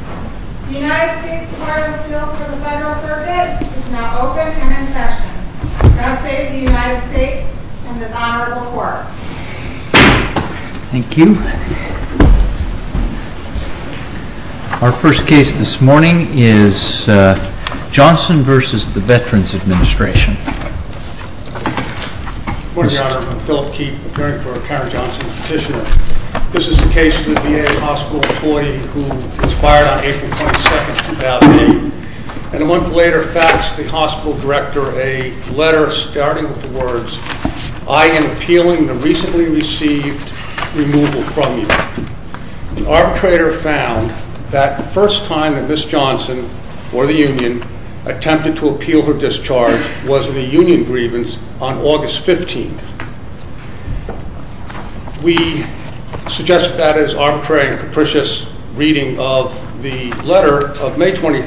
The United States Court of Appeals for the Federal Circuit is now open and in session. God save the United States and this Honorable Court. Thank you. Our first case this morning is Johnson v. Veterans Administration. Good morning, Your Honor. I'm Philip Keefe, appearing for a Karen Johnson petition. This is the case for the VA hospital employee who was fired on April 22, 2008. And a month later faxed the hospital director a letter starting with the words, I am appealing the recently received removal from you. The arbitrator found that the first time that Ms. Johnson or the union attempted to appeal her discharge was in a union grievance on August 15. We suggest that as arbitrary and capricious reading of the letter of May 20,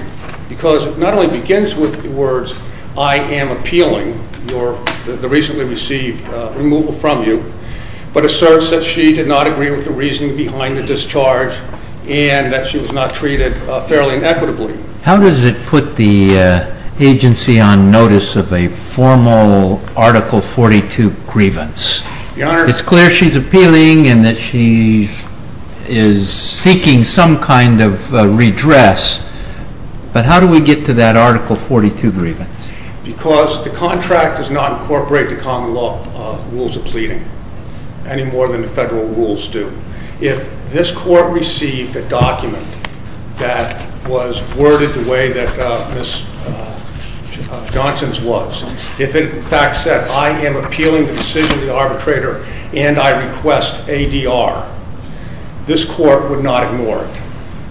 because it not only begins with the words, I am appealing the recently received removal from you, but asserts that she did not agree with the reasoning behind the discharge and that she was not treated fairly and equitably. How does it put the agency on notice of a formal Article 42 grievance? It's clear she's appealing and that she is seeking some kind of redress, but how do we get to that Article 42 grievance? Because the contract does not incorporate the common law rules of pleading any more than the federal rules do. If this court received a document that was worded the way that Ms. Johnson's was, if it in fact said, I am appealing the decision of the arbitrator and I request ADR, this court would not ignore it.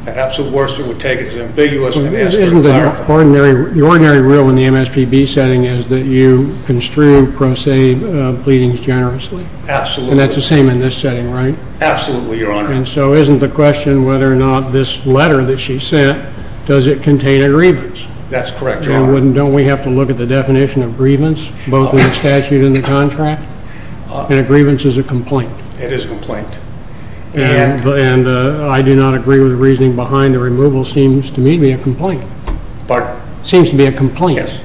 At absolute worst, it would take it as ambiguous and ask for a clarification. Isn't the ordinary rule in the MSPB setting is that you construe pro se pleadings generously? Absolutely. And that's the same in this setting, right? Absolutely, Your Honor. And so isn't the question whether or not this letter that she sent, does it contain a grievance? That's correct, Your Honor. And don't we have to look at the definition of grievance, both in the statute and the contract? And a grievance is a complaint. It is a complaint. And I do not agree with the reasoning behind the removal. It seems to me to be a complaint. Pardon? It seems to be a complaint. Yes.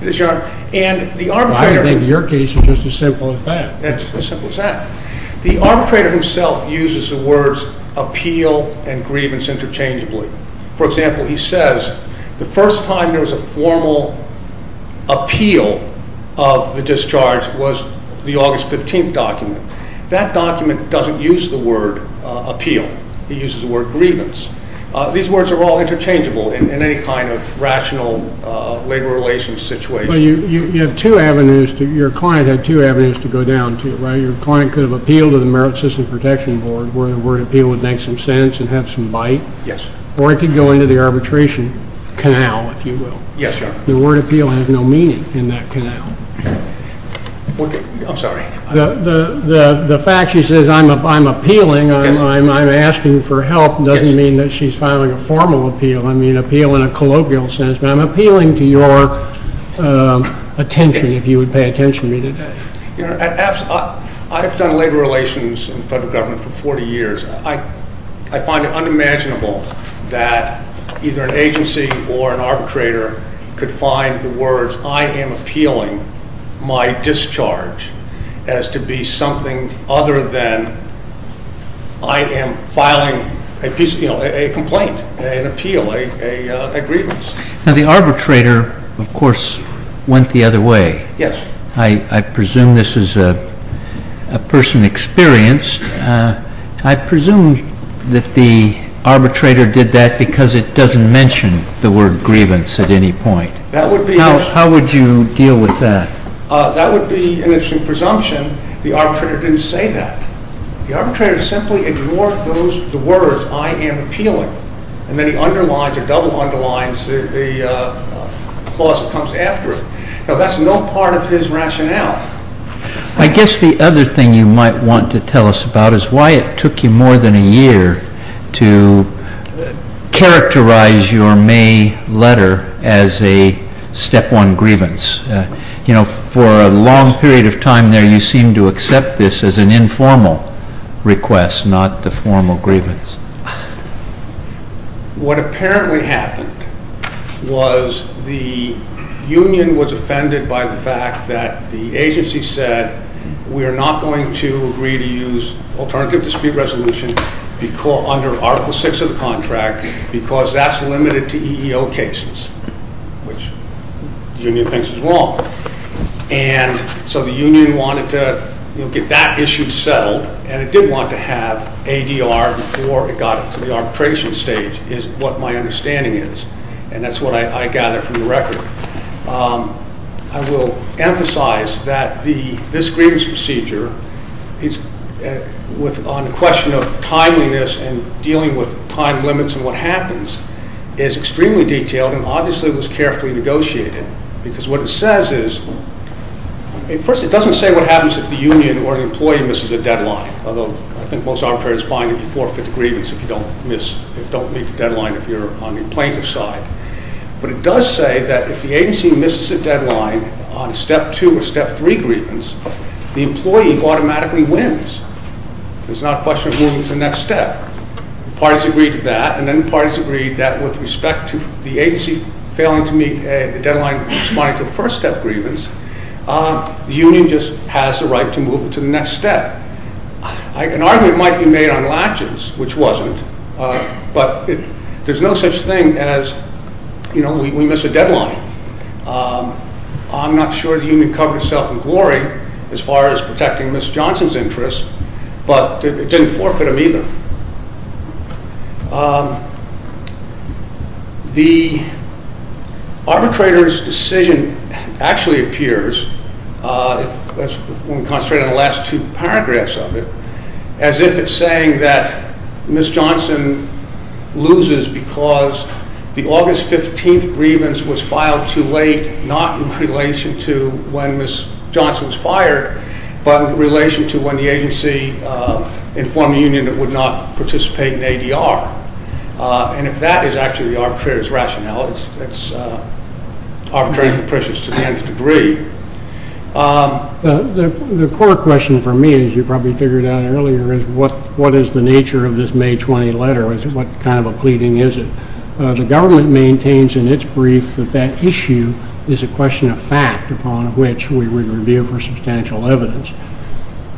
It is, Your Honor. I think your case is just as simple as that. It's as simple as that. The arbitrator himself uses the words appeal and grievance interchangeably. For example, he says the first time there was a formal appeal of the discharge was the August 15th document. That document doesn't use the word appeal. It uses the word grievance. These words are all interchangeable in any kind of rational labor relations situation. But you have two avenues. Your client had two avenues to go down to, right? Your client could have appealed to the Merit System Protection Board where the word appeal would make some sense and have some bite. Yes. Or it could go into the arbitration canal, if you will. Yes, Your Honor. The word appeal has no meaning in that canal. I'm sorry? The fact she says I'm appealing, I'm asking for help, doesn't mean that she's filing a formal appeal. I mean appeal in a colloquial sense. But I'm appealing to your attention, if you would pay attention to me today. Your Honor, I've done labor relations in federal government for 40 years. I find it unimaginable that either an agency or an arbitrator could find the words I am appealing my discharge as to be something other than I am filing a complaint, an appeal, a grievance. Now the arbitrator, of course, went the other way. Yes. I presume this is a person experienced. I presume that the arbitrator did that because it doesn't mention the word grievance at any point. How would you deal with that? That would be an interesting presumption. The arbitrator didn't say that. The arbitrator simply ignored the words I am appealing. And then he underlines or double underlines the clause that comes after it. Now that's no part of his rationale. I guess the other thing you might want to tell us about is why it took you more than a year to characterize your May letter as a step one grievance. You know, for a long period of time there you seemed to accept this as an informal request, not the formal grievance. What apparently happened was the union was offended by the fact that the agency said we are not going to agree to use alternative dispute resolution under Article 6 of the contract because that's limited to EEO cases, which the union thinks is wrong. And so the union wanted to get that issue settled and it did want to have ADR before it got to the arbitration stage is what my understanding is. And that's what I gather from the record. I will emphasize that this grievance procedure, on the question of timeliness and dealing with time limits and what happens, is extremely detailed and obviously was carefully negotiated. Because what it says is, first it doesn't say what happens if the union or the employee misses a deadline. Although I think most arbitrators find that you forfeit a grievance if you don't meet the deadline if you're on the plaintiff's side. But it does say that if the agency misses a deadline on step two or step three grievance, the employee automatically wins. There's not a question of moving to the next step. Parties agreed to that and then parties agreed that with respect to the agency failing to meet the deadline responding to the first step grievance, the union just has the right to move to the next step. An argument might be made on latches, which wasn't, but there's no such thing as, you know, we miss a deadline. I'm not sure the union covered itself in glory as far as protecting Ms. Johnson's interests, but it didn't forfeit them either. The arbitrator's decision actually appears, when we concentrate on the last two paragraphs of it, as if it's saying that Ms. Johnson loses because the August 15th grievance was filed too late, not in relation to when Ms. Johnson was fired, but in relation to when the agency informed the union it would not participate in ADR. And if that is actually the arbitrator's rationale, it's arbitrary and capricious to the nth degree. The core question for me, as you probably figured out earlier, is what is the nature of this May 20th letter? What kind of a pleading is it? The government maintains in its brief that that issue is a question of fact upon which we would review for substantial evidence.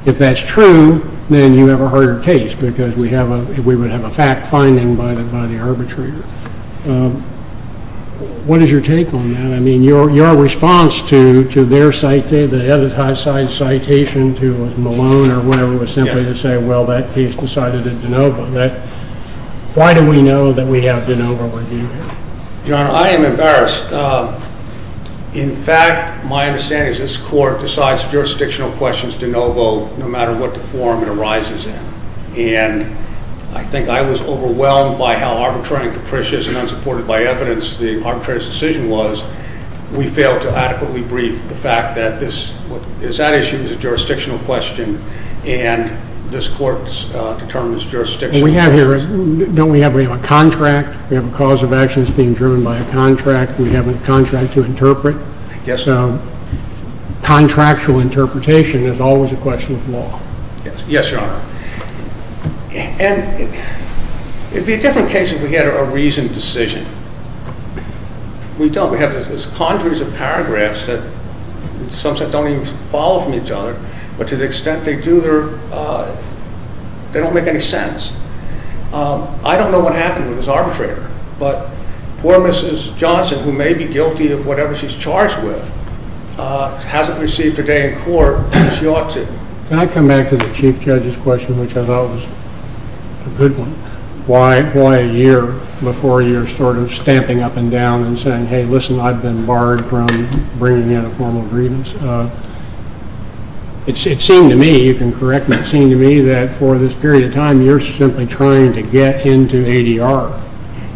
If that's true, then you have a harder case because we would have a fact finding by the arbitrator. What is your take on that? I mean, your response to their citation, the other side's citation to Malone or whatever, was simply to say, well, that case decided in de novo. Why do we know that we have de novo review here? Your Honor, I am embarrassed. In fact, my understanding is this Court decides jurisdictional questions de novo no matter what form it arises in. And I think I was overwhelmed by how arbitrary and capricious and unsupported by evidence the arbitrator's decision was. We failed to adequately brief the fact that this issue is a jurisdictional question and this Court determines jurisdictional questions. Don't we have a contract? We have a cause of action that's being driven by a contract. We have a contract to interpret. Yes, Your Honor. Contractual interpretation is always a question of law. Yes, Your Honor. And it would be a different case if we had a reasoned decision. We don't. We have these conjuries of paragraphs that, in some sense, don't even follow from each other, but to the extent they do, they don't make any sense. I don't know what happened with this arbitrator, but poor Mrs. Johnson, who may be guilty of whatever she's charged with, hasn't received a day in court that she ought to. Can I come back to the Chief Judge's question, which I thought was a good one? Why a year before you're sort of stamping up and down and saying, hey, listen, I've been barred from bringing in a formal grievance? It seemed to me, you can correct me, it seemed to me that for this period of time you're simply trying to get into ADR.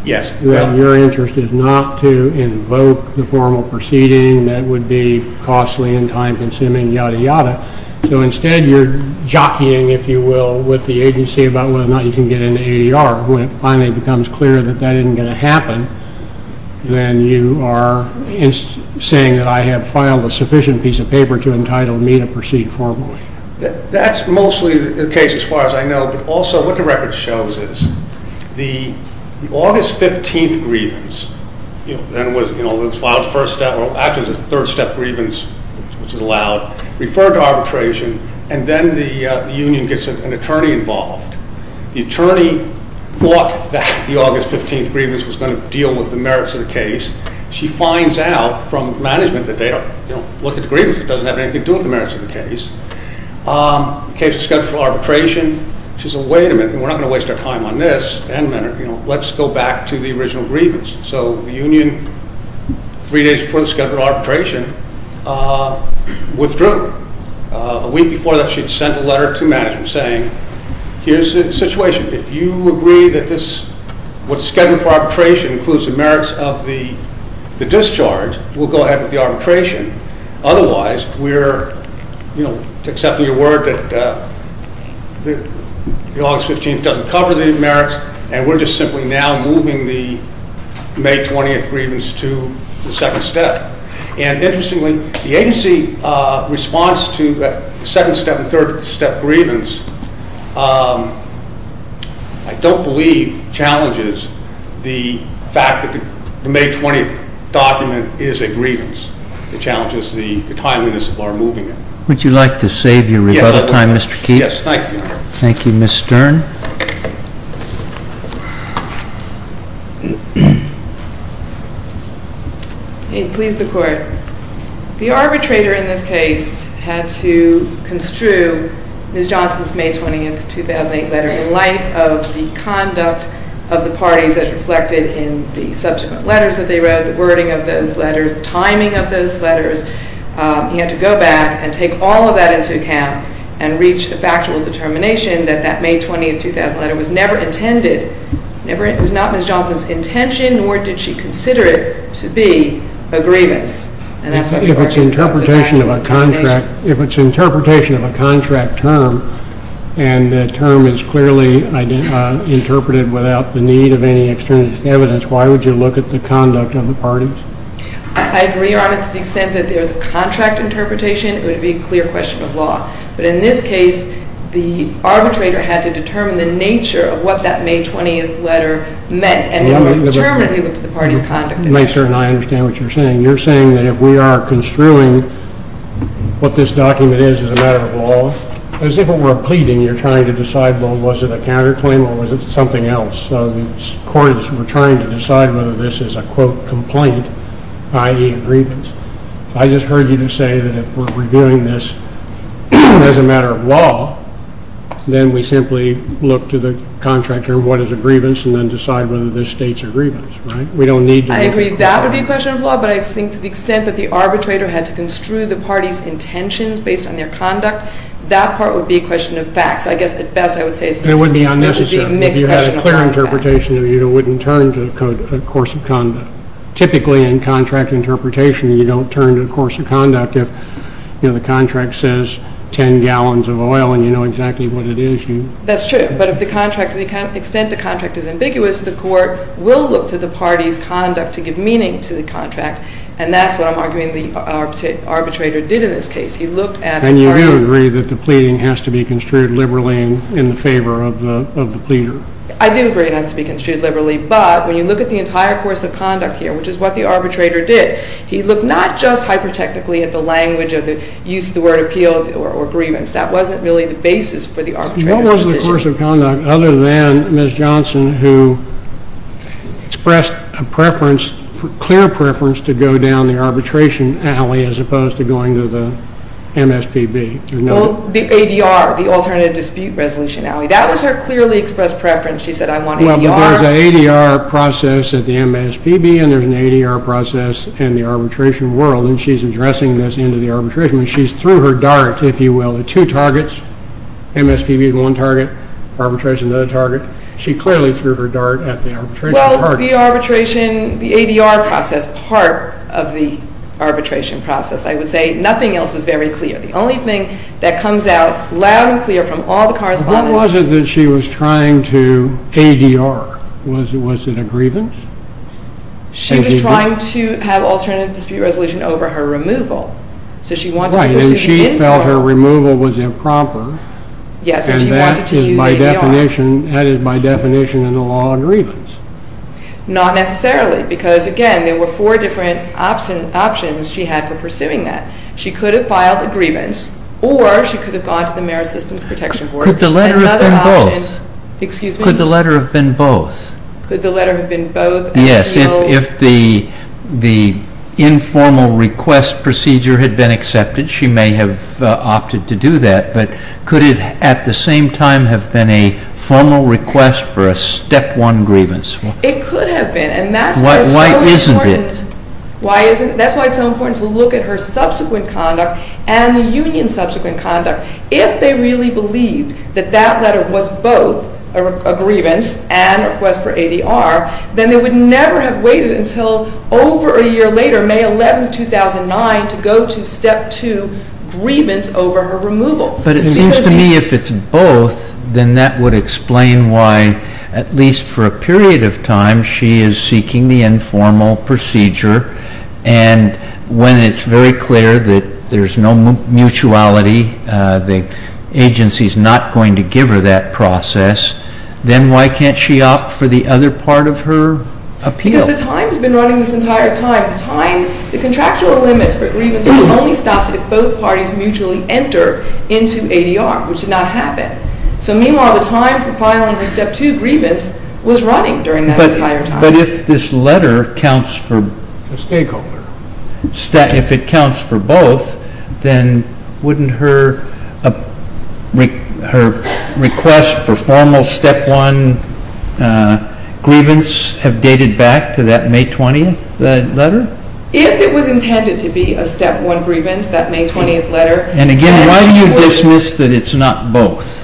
Yes. Your interest is not to invoke the formal proceeding that would be costly and time-consuming, yada, yada. So instead you're jockeying, if you will, with the agency about whether or not you can get into ADR. When it finally becomes clear that that isn't going to happen, then you are saying that I have filed a sufficient piece of paper to entitle me to proceed formally. That's mostly the case as far as I know, but also what the record shows is the August 15th grievance, then was filed after the third step grievance, which is allowed, referred to arbitration, and then the union gets an attorney involved. The attorney thought that the August 15th grievance was going to deal with the merits of the case. She finds out from management that they don't look at the grievance. It doesn't have anything to do with the merits of the case. The case is scheduled for arbitration. She says, wait a minute, we're not going to waste our time on this. Let's go back to the original grievance. So the union, three days before the scheduled arbitration, withdrew. A week before that, she sent a letter to management saying, here's the situation. If you agree that what's scheduled for arbitration includes the merits of the discharge, we'll go ahead with the arbitration. Otherwise, we're accepting your word that the August 15th doesn't cover the merits, and we're just simply now moving the May 20th grievance to the second step. And interestingly, the agency response to the second step and third step grievance, I don't believe, challenges the fact that the May 20th document is a grievance. It challenges the timeliness of our moving it. Would you like to save your rebuttal time, Mr. Keith? Yes, thank you. Thank you, Ms. Stern. May it please the Court. The arbitrator in this case had to construe Ms. Johnson's May 20th, 2008 letter in light of the conduct of the parties as reflected in the subsequent letters that they wrote, the wording of those letters, the timing of those letters. He had to go back and take all of that into account and reach the factual determination that that May 20th, 2008 letter was never intended. It was not Ms. Johnson's intention, nor did she consider it to be a grievance. If it's interpretation of a contract term, and the term is clearly interpreted without the need of any external evidence, why would you look at the conduct of the parties? I agree on it to the extent that there's a contract interpretation, it would be a clear question of law. But in this case, the arbitrator had to determine the nature of what that May 20th letter meant. And he determined he looked at the parties' conduct. Ms. Stern, I understand what you're saying. You're saying that if we are construing what this document is as a matter of law, as if it were a pleading, you're trying to decide, well, was it a counterclaim or was it something else? So the courts were trying to decide whether this is a, quote, complaint, i.e., a grievance. I just heard you say that if we're reviewing this as a matter of law, then we simply look to the contract term, what is a grievance, and then decide whether this states a grievance, right? I agree that would be a question of law, but I think to the extent that the arbitrator had to construe the parties' intentions based on their conduct, that part would be a question of facts. I guess, at best, I would say it would be a mixed question of facts. It would be unnecessary. If you had a clear interpretation, it wouldn't turn to a course of conduct. Typically, in contract interpretation, you don't turn to a course of conduct. If the contract says 10 gallons of oil and you know exactly what it is. That's true. But if the extent of the contract is ambiguous, the court will look to the parties' conduct to give meaning to the contract. And that's what I'm arguing the arbitrator did in this case. And you do agree that the pleading has to be construed liberally in favor of the pleader? I do agree it has to be construed liberally. But when you look at the entire course of conduct here, which is what the arbitrator did, he looked not just hyper-technically at the language of the use of the word appeal or grievance. That wasn't really the basis for the arbitrator's decision. What was the course of conduct other than Ms. Johnson, who expressed a preference, clear preference, to go down the arbitration alley as opposed to going to the MSPB? The ADR, the Alternative Dispute Resolution Alley. That was her clearly expressed preference. She said, I want ADR. Well, there's an ADR process at the MSPB, and there's an ADR process in the arbitration world. And she's addressing this in the arbitration. She's through her dart, if you will, at two targets, MSPB at one target, arbitration at another target. She clearly threw her dart at the arbitration target. Well, the arbitration, the ADR process, part of the arbitration process, I would say. Nothing else is very clear. The only thing that comes out loud and clear from all the correspondence. What was it that she was trying to ADR? Was it a grievance? She was trying to have Alternative Dispute Resolution over her removal. Right, and she felt her removal was improper. Yes, and she wanted to use ADR. That is by definition in the law a grievance. Not necessarily, because, again, there were four different options she had for pursuing that. She could have filed a grievance, or she could have gone to the Merit Systems Protection Board. Could the letter have been both? Excuse me? Could the letter have been both? Could the letter have been both? Yes, if the informal request procedure had been accepted, she may have opted to do that. But could it at the same time have been a formal request for a Step 1 grievance? It could have been. Why isn't it? That's why it's so important to look at her subsequent conduct and the union's subsequent conduct. If they really believed that that letter was both a grievance and a request for ADR, then they would never have waited until over a year later, May 11, 2009, to go to Step 2 grievance over her removal. But it seems to me if it's both, then that would explain why, at least for a period of time, she is seeking the informal procedure. And when it's very clear that there's no mutuality, the agency's not going to give her that process, then why can't she opt for the other part of her appeal? Because the time has been running this entire time. The contractual limits for grievances only stops if both parties mutually enter into ADR, which did not happen. So meanwhile, the time for filing a Step 2 grievance was running during that entire time. But if this letter counts for both, then wouldn't her request for formal Step 1 grievance have dated back to that May 20th letter? If it was intended to be a Step 1 grievance, that May 20th letter. And again, why do you dismiss that it's not both?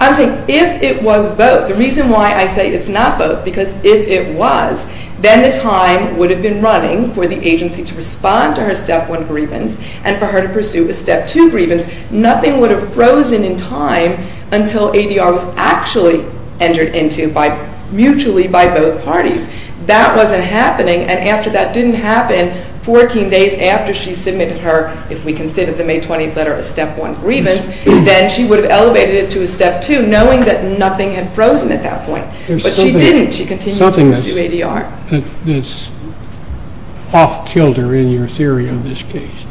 I'm saying if it was both, the reason why I say it's not both, because if it was, then the time would have been running for the agency to respond to her Step 1 grievance and for her to pursue a Step 2 grievance. Nothing would have frozen in time until ADR was actually entered into mutually by both parties. That wasn't happening. And after that didn't happen, 14 days after she submitted her, if we consider the May 20th letter, a Step 1 grievance, then she would have elevated it to a Step 2, knowing that nothing had frozen at that point. But she didn't. She continued to pursue ADR. There's something that's off kilter in your theory of this case.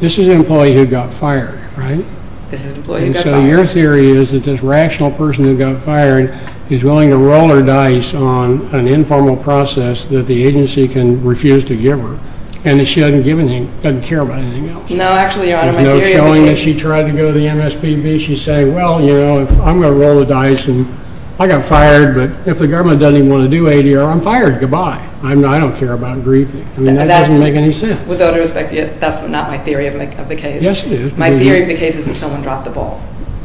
This is an employee who got fired, right? This is an employee who got fired. And so your theory is that this rational person who got fired is willing to roll her dice on an informal process that the agency can refuse to give her, and that she doesn't give anything, doesn't care about anything else. No, actually, Your Honor. There's no showing that she tried to go to the MSPB. She's saying, well, you know, I'm going to roll the dice, and I got fired, but if the government doesn't even want to do ADR, I'm fired. Goodbye. I don't care about grieving. I mean, that doesn't make any sense. With all due respect, that's not my theory of the case. Yes, it is. My theory of the case is that someone dropped the ball.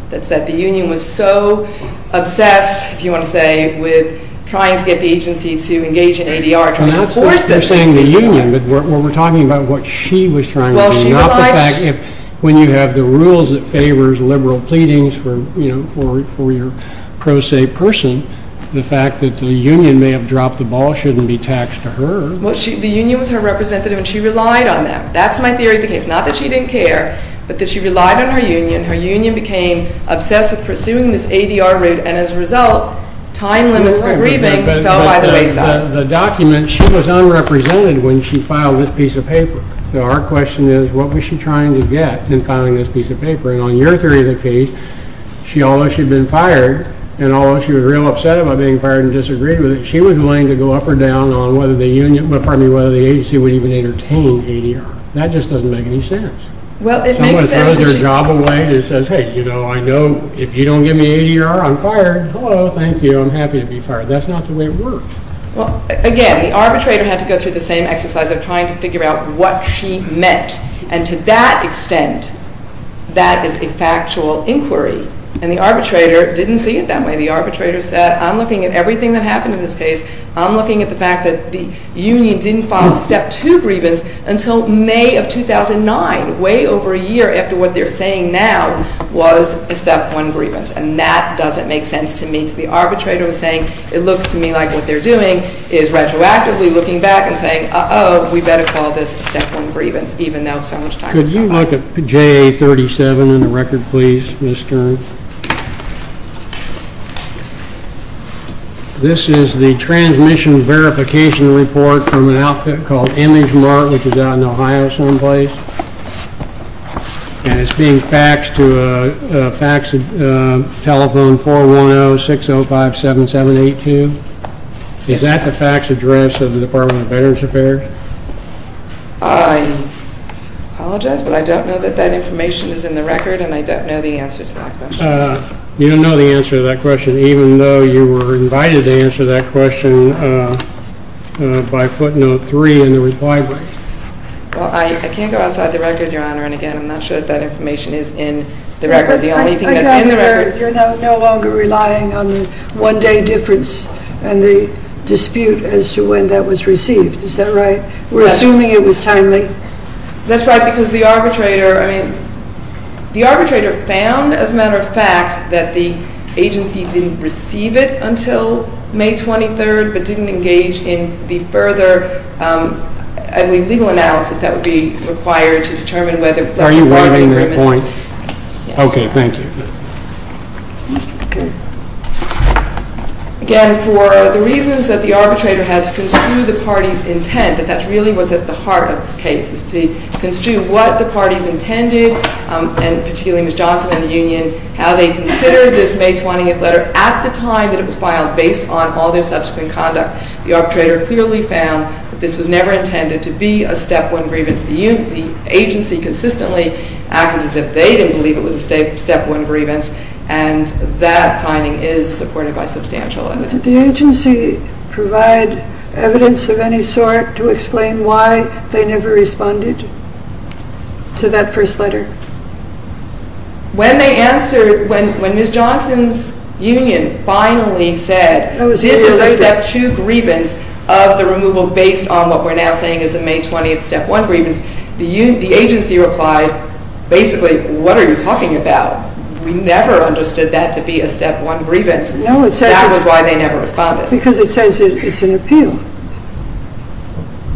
That's that the union was so obsessed, if you want to say, with trying to get the agency to engage in ADR, trying to force this. You're saying the union, but we're talking about what she was trying to do, not the fact that when you have the rules that favors liberal pleadings for your pro se person, the fact that the union may have dropped the ball shouldn't be taxed to her. Well, the union was her representative, and she relied on that. That's my theory of the case. Not that she didn't care, but that she relied on her union. Her union became obsessed with pursuing this ADR route, and as a result, time limits for grieving fell by the wayside. The document, she was unrepresented when she filed this piece of paper. So our question is, what was she trying to get in filing this piece of paper? And on your theory of the case, she, although she'd been fired, and although she was real upset about being fired and disagreed with it, she was willing to go up or down on whether the union, pardon me, whether the agency would even entertain ADR. That just doesn't make any sense. Well, it makes sense. Someone throws their job away and says, hey, you know, I know if you don't give me ADR, I'm fired. Hello, thank you. I'm happy to be fired. That's not the way it works. Well, again, the arbitrator had to go through the same exercise of trying to figure out what she meant. And to that extent, that is a factual inquiry. And the arbitrator didn't see it that way. The arbitrator said, I'm looking at everything that happened in this case. I'm looking at the fact that the union didn't file a Step 2 grievance until May of 2009, way over a year after what they're saying now was a Step 1 grievance. And that doesn't make sense to me. The arbitrator was saying, it looks to me like what they're doing is retroactively looking back and saying, uh-oh, we better call this a Step 1 grievance, even though so much time has passed. Could you look at JA 37 in the record, please, Ms. Stern? This is the transmission verification report from an outfit called Image Mart, which is out in Ohio someplace. And it's being faxed to a fax telephone, 410-605-7782. Is that the fax address of the Department of Veterans Affairs? I apologize, but I don't know that that information is in the record, and I don't know the answer to that question. You don't know the answer to that question, even though you were invited to answer that question by footnote 3 in the reply brief. Well, I can't go outside the record, Your Honor, and again, I'm not sure if that information is in the record. The only thing that's in the record- I gather you're no longer relying on the one-day difference and the dispute as to when that was received. Is that right? We're assuming it was timely? That's right, because the arbitrator found, as a matter of fact, that the agency didn't receive it until May 23rd, but didn't engage in the further legal analysis that would be required to determine whether- Are you wanting that point? Yes. Okay, thank you. Again, for the reasons that the arbitrator had to construe the party's intent, that that really was at the heart of this case, is to construe what the parties intended, and particularly Ms. Johnson and the union, how they considered this May 20th letter at the time that it was filed, based on all their subsequent conduct. The arbitrator clearly found that this was never intended to be a step one grievance. The agency consistently acted as if they didn't believe it was a step one grievance, and that finding is supported by substantial evidence. Did the agency provide evidence of any sort to explain why they never responded to that first letter? When they answered, when Ms. Johnson's union finally said, this is a step two grievance of the removal based on what we're now saying is a May 20th step one grievance, the agency replied, basically, what are you talking about? We never understood that to be a step one grievance. No, it says- That's why they never responded. Because it says it's an appeal.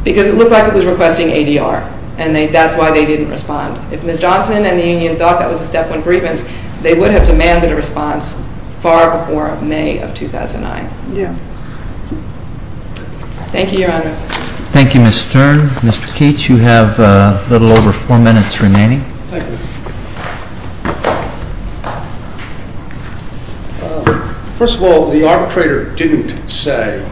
Because it looked like it was requesting ADR, and that's why they didn't respond. If Ms. Johnson and the union thought that was a step one grievance, they would have demanded a response far before May of 2009. Yeah. Thank you, Your Honors. Thank you, Ms. Stern. Mr. Keats, you have a little over four minutes remaining. Thank you. First of all, the arbitrator didn't say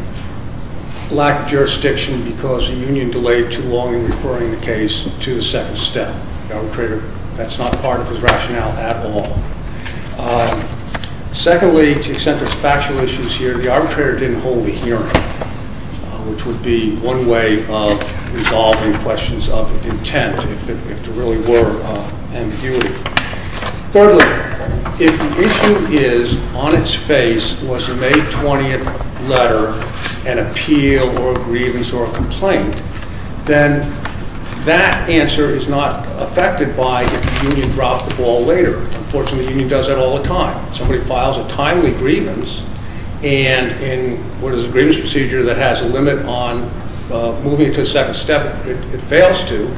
lack of jurisdiction because the union delayed too long in referring the case to the second step. The arbitrator, that's not part of his rationale at all. Secondly, to extent there's factual issues here, the arbitrator didn't hold a hearing, which would be one way of resolving questions of intent if there really were ambiguity. Thirdly, if the issue is on its face was the May 20th letter an appeal or a grievance or a complaint, then that answer is not affected by if the union dropped the ball later. Unfortunately, the union does that all the time. Somebody files a timely grievance, and where there's a grievance procedure that has a limit on moving it to the second step, it fails to.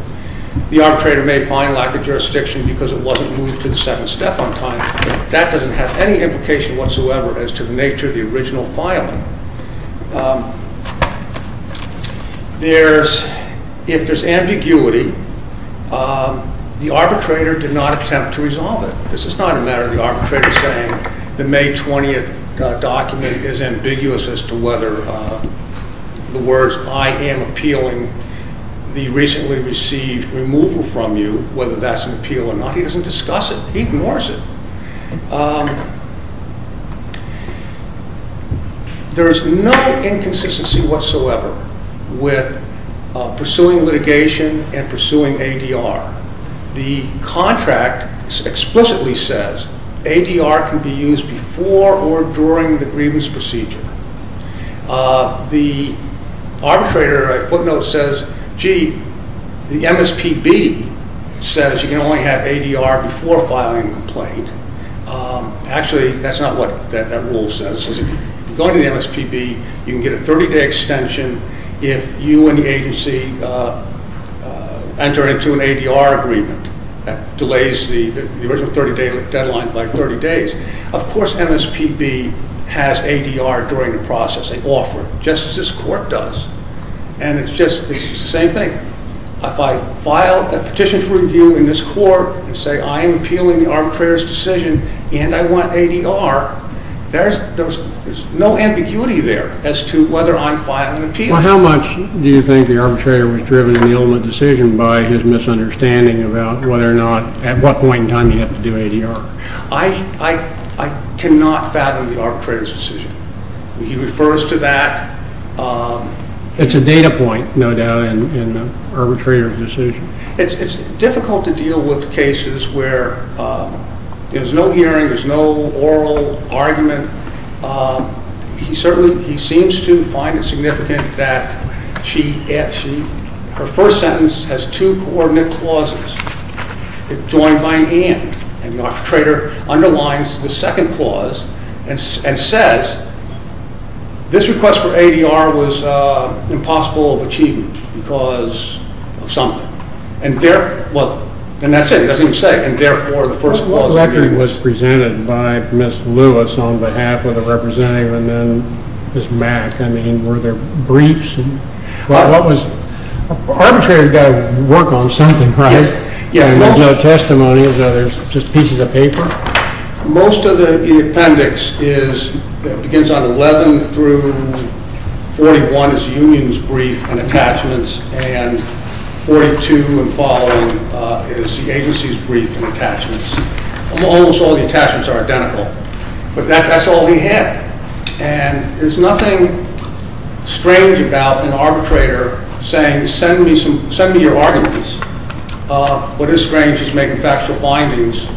The arbitrator may find lack of jurisdiction because it wasn't moved to the second step on time. That doesn't have any implication whatsoever as to the nature of the original filing. If there's ambiguity, the arbitrator did not attempt to resolve it. This is not a matter of the arbitrator saying the May 20th document is ambiguous as to whether the words, I am appealing the recently received removal from you, whether that's an appeal or not. He doesn't discuss it. He ignores it. There's no inconsistency whatsoever with pursuing litigation and pursuing ADR. The contract explicitly says ADR can be used before or during the grievance procedure. The arbitrator at footnote says, gee, the MSPB says you can only have ADR before filing a complaint. Actually, that's not what that rule says. If you go to the MSPB, you can get a 30-day extension if you and the agency enter into an ADR agreement. That delays the original 30-day deadline by 30 days. Of course, MSPB has ADR during the process. They offer it, just as this court does. It's the same thing. If I file a petition for review in this court and say I am appealing the arbitrator's decision and I want ADR, there's no ambiguity there as to whether I'm filing an appeal. Well, how much do you think the arbitrator was driven in the ultimate decision by his misunderstanding about at what point in time you have to do ADR? I cannot fathom the arbitrator's decision. He refers to that. It's a data point, no doubt, in the arbitrator's decision. It's difficult to deal with cases where there's no hearing, there's no oral argument. He certainly seems to find it significant that her first sentence has two coordinate clauses joined by a hand and the arbitrator underlines the second clause and says, this request for ADR was impossible of achieving because of something. And that's it. He doesn't even say it. And therefore, the first clause... What record was presented by Ms. Lewis on behalf of the representative and then Ms. Mack? I mean, were there briefs? Arbitrator's got to work on something, right? Yeah. And there's no testimony, just pieces of paper? Most of the appendix begins on 11 through 41 is the union's brief and attachments and 42 and following is the agency's brief and attachments. Almost all the attachments are identical. But that's all he had. And there's nothing strange about an arbitrator saying, send me your arguments. What is strange is making factual findings.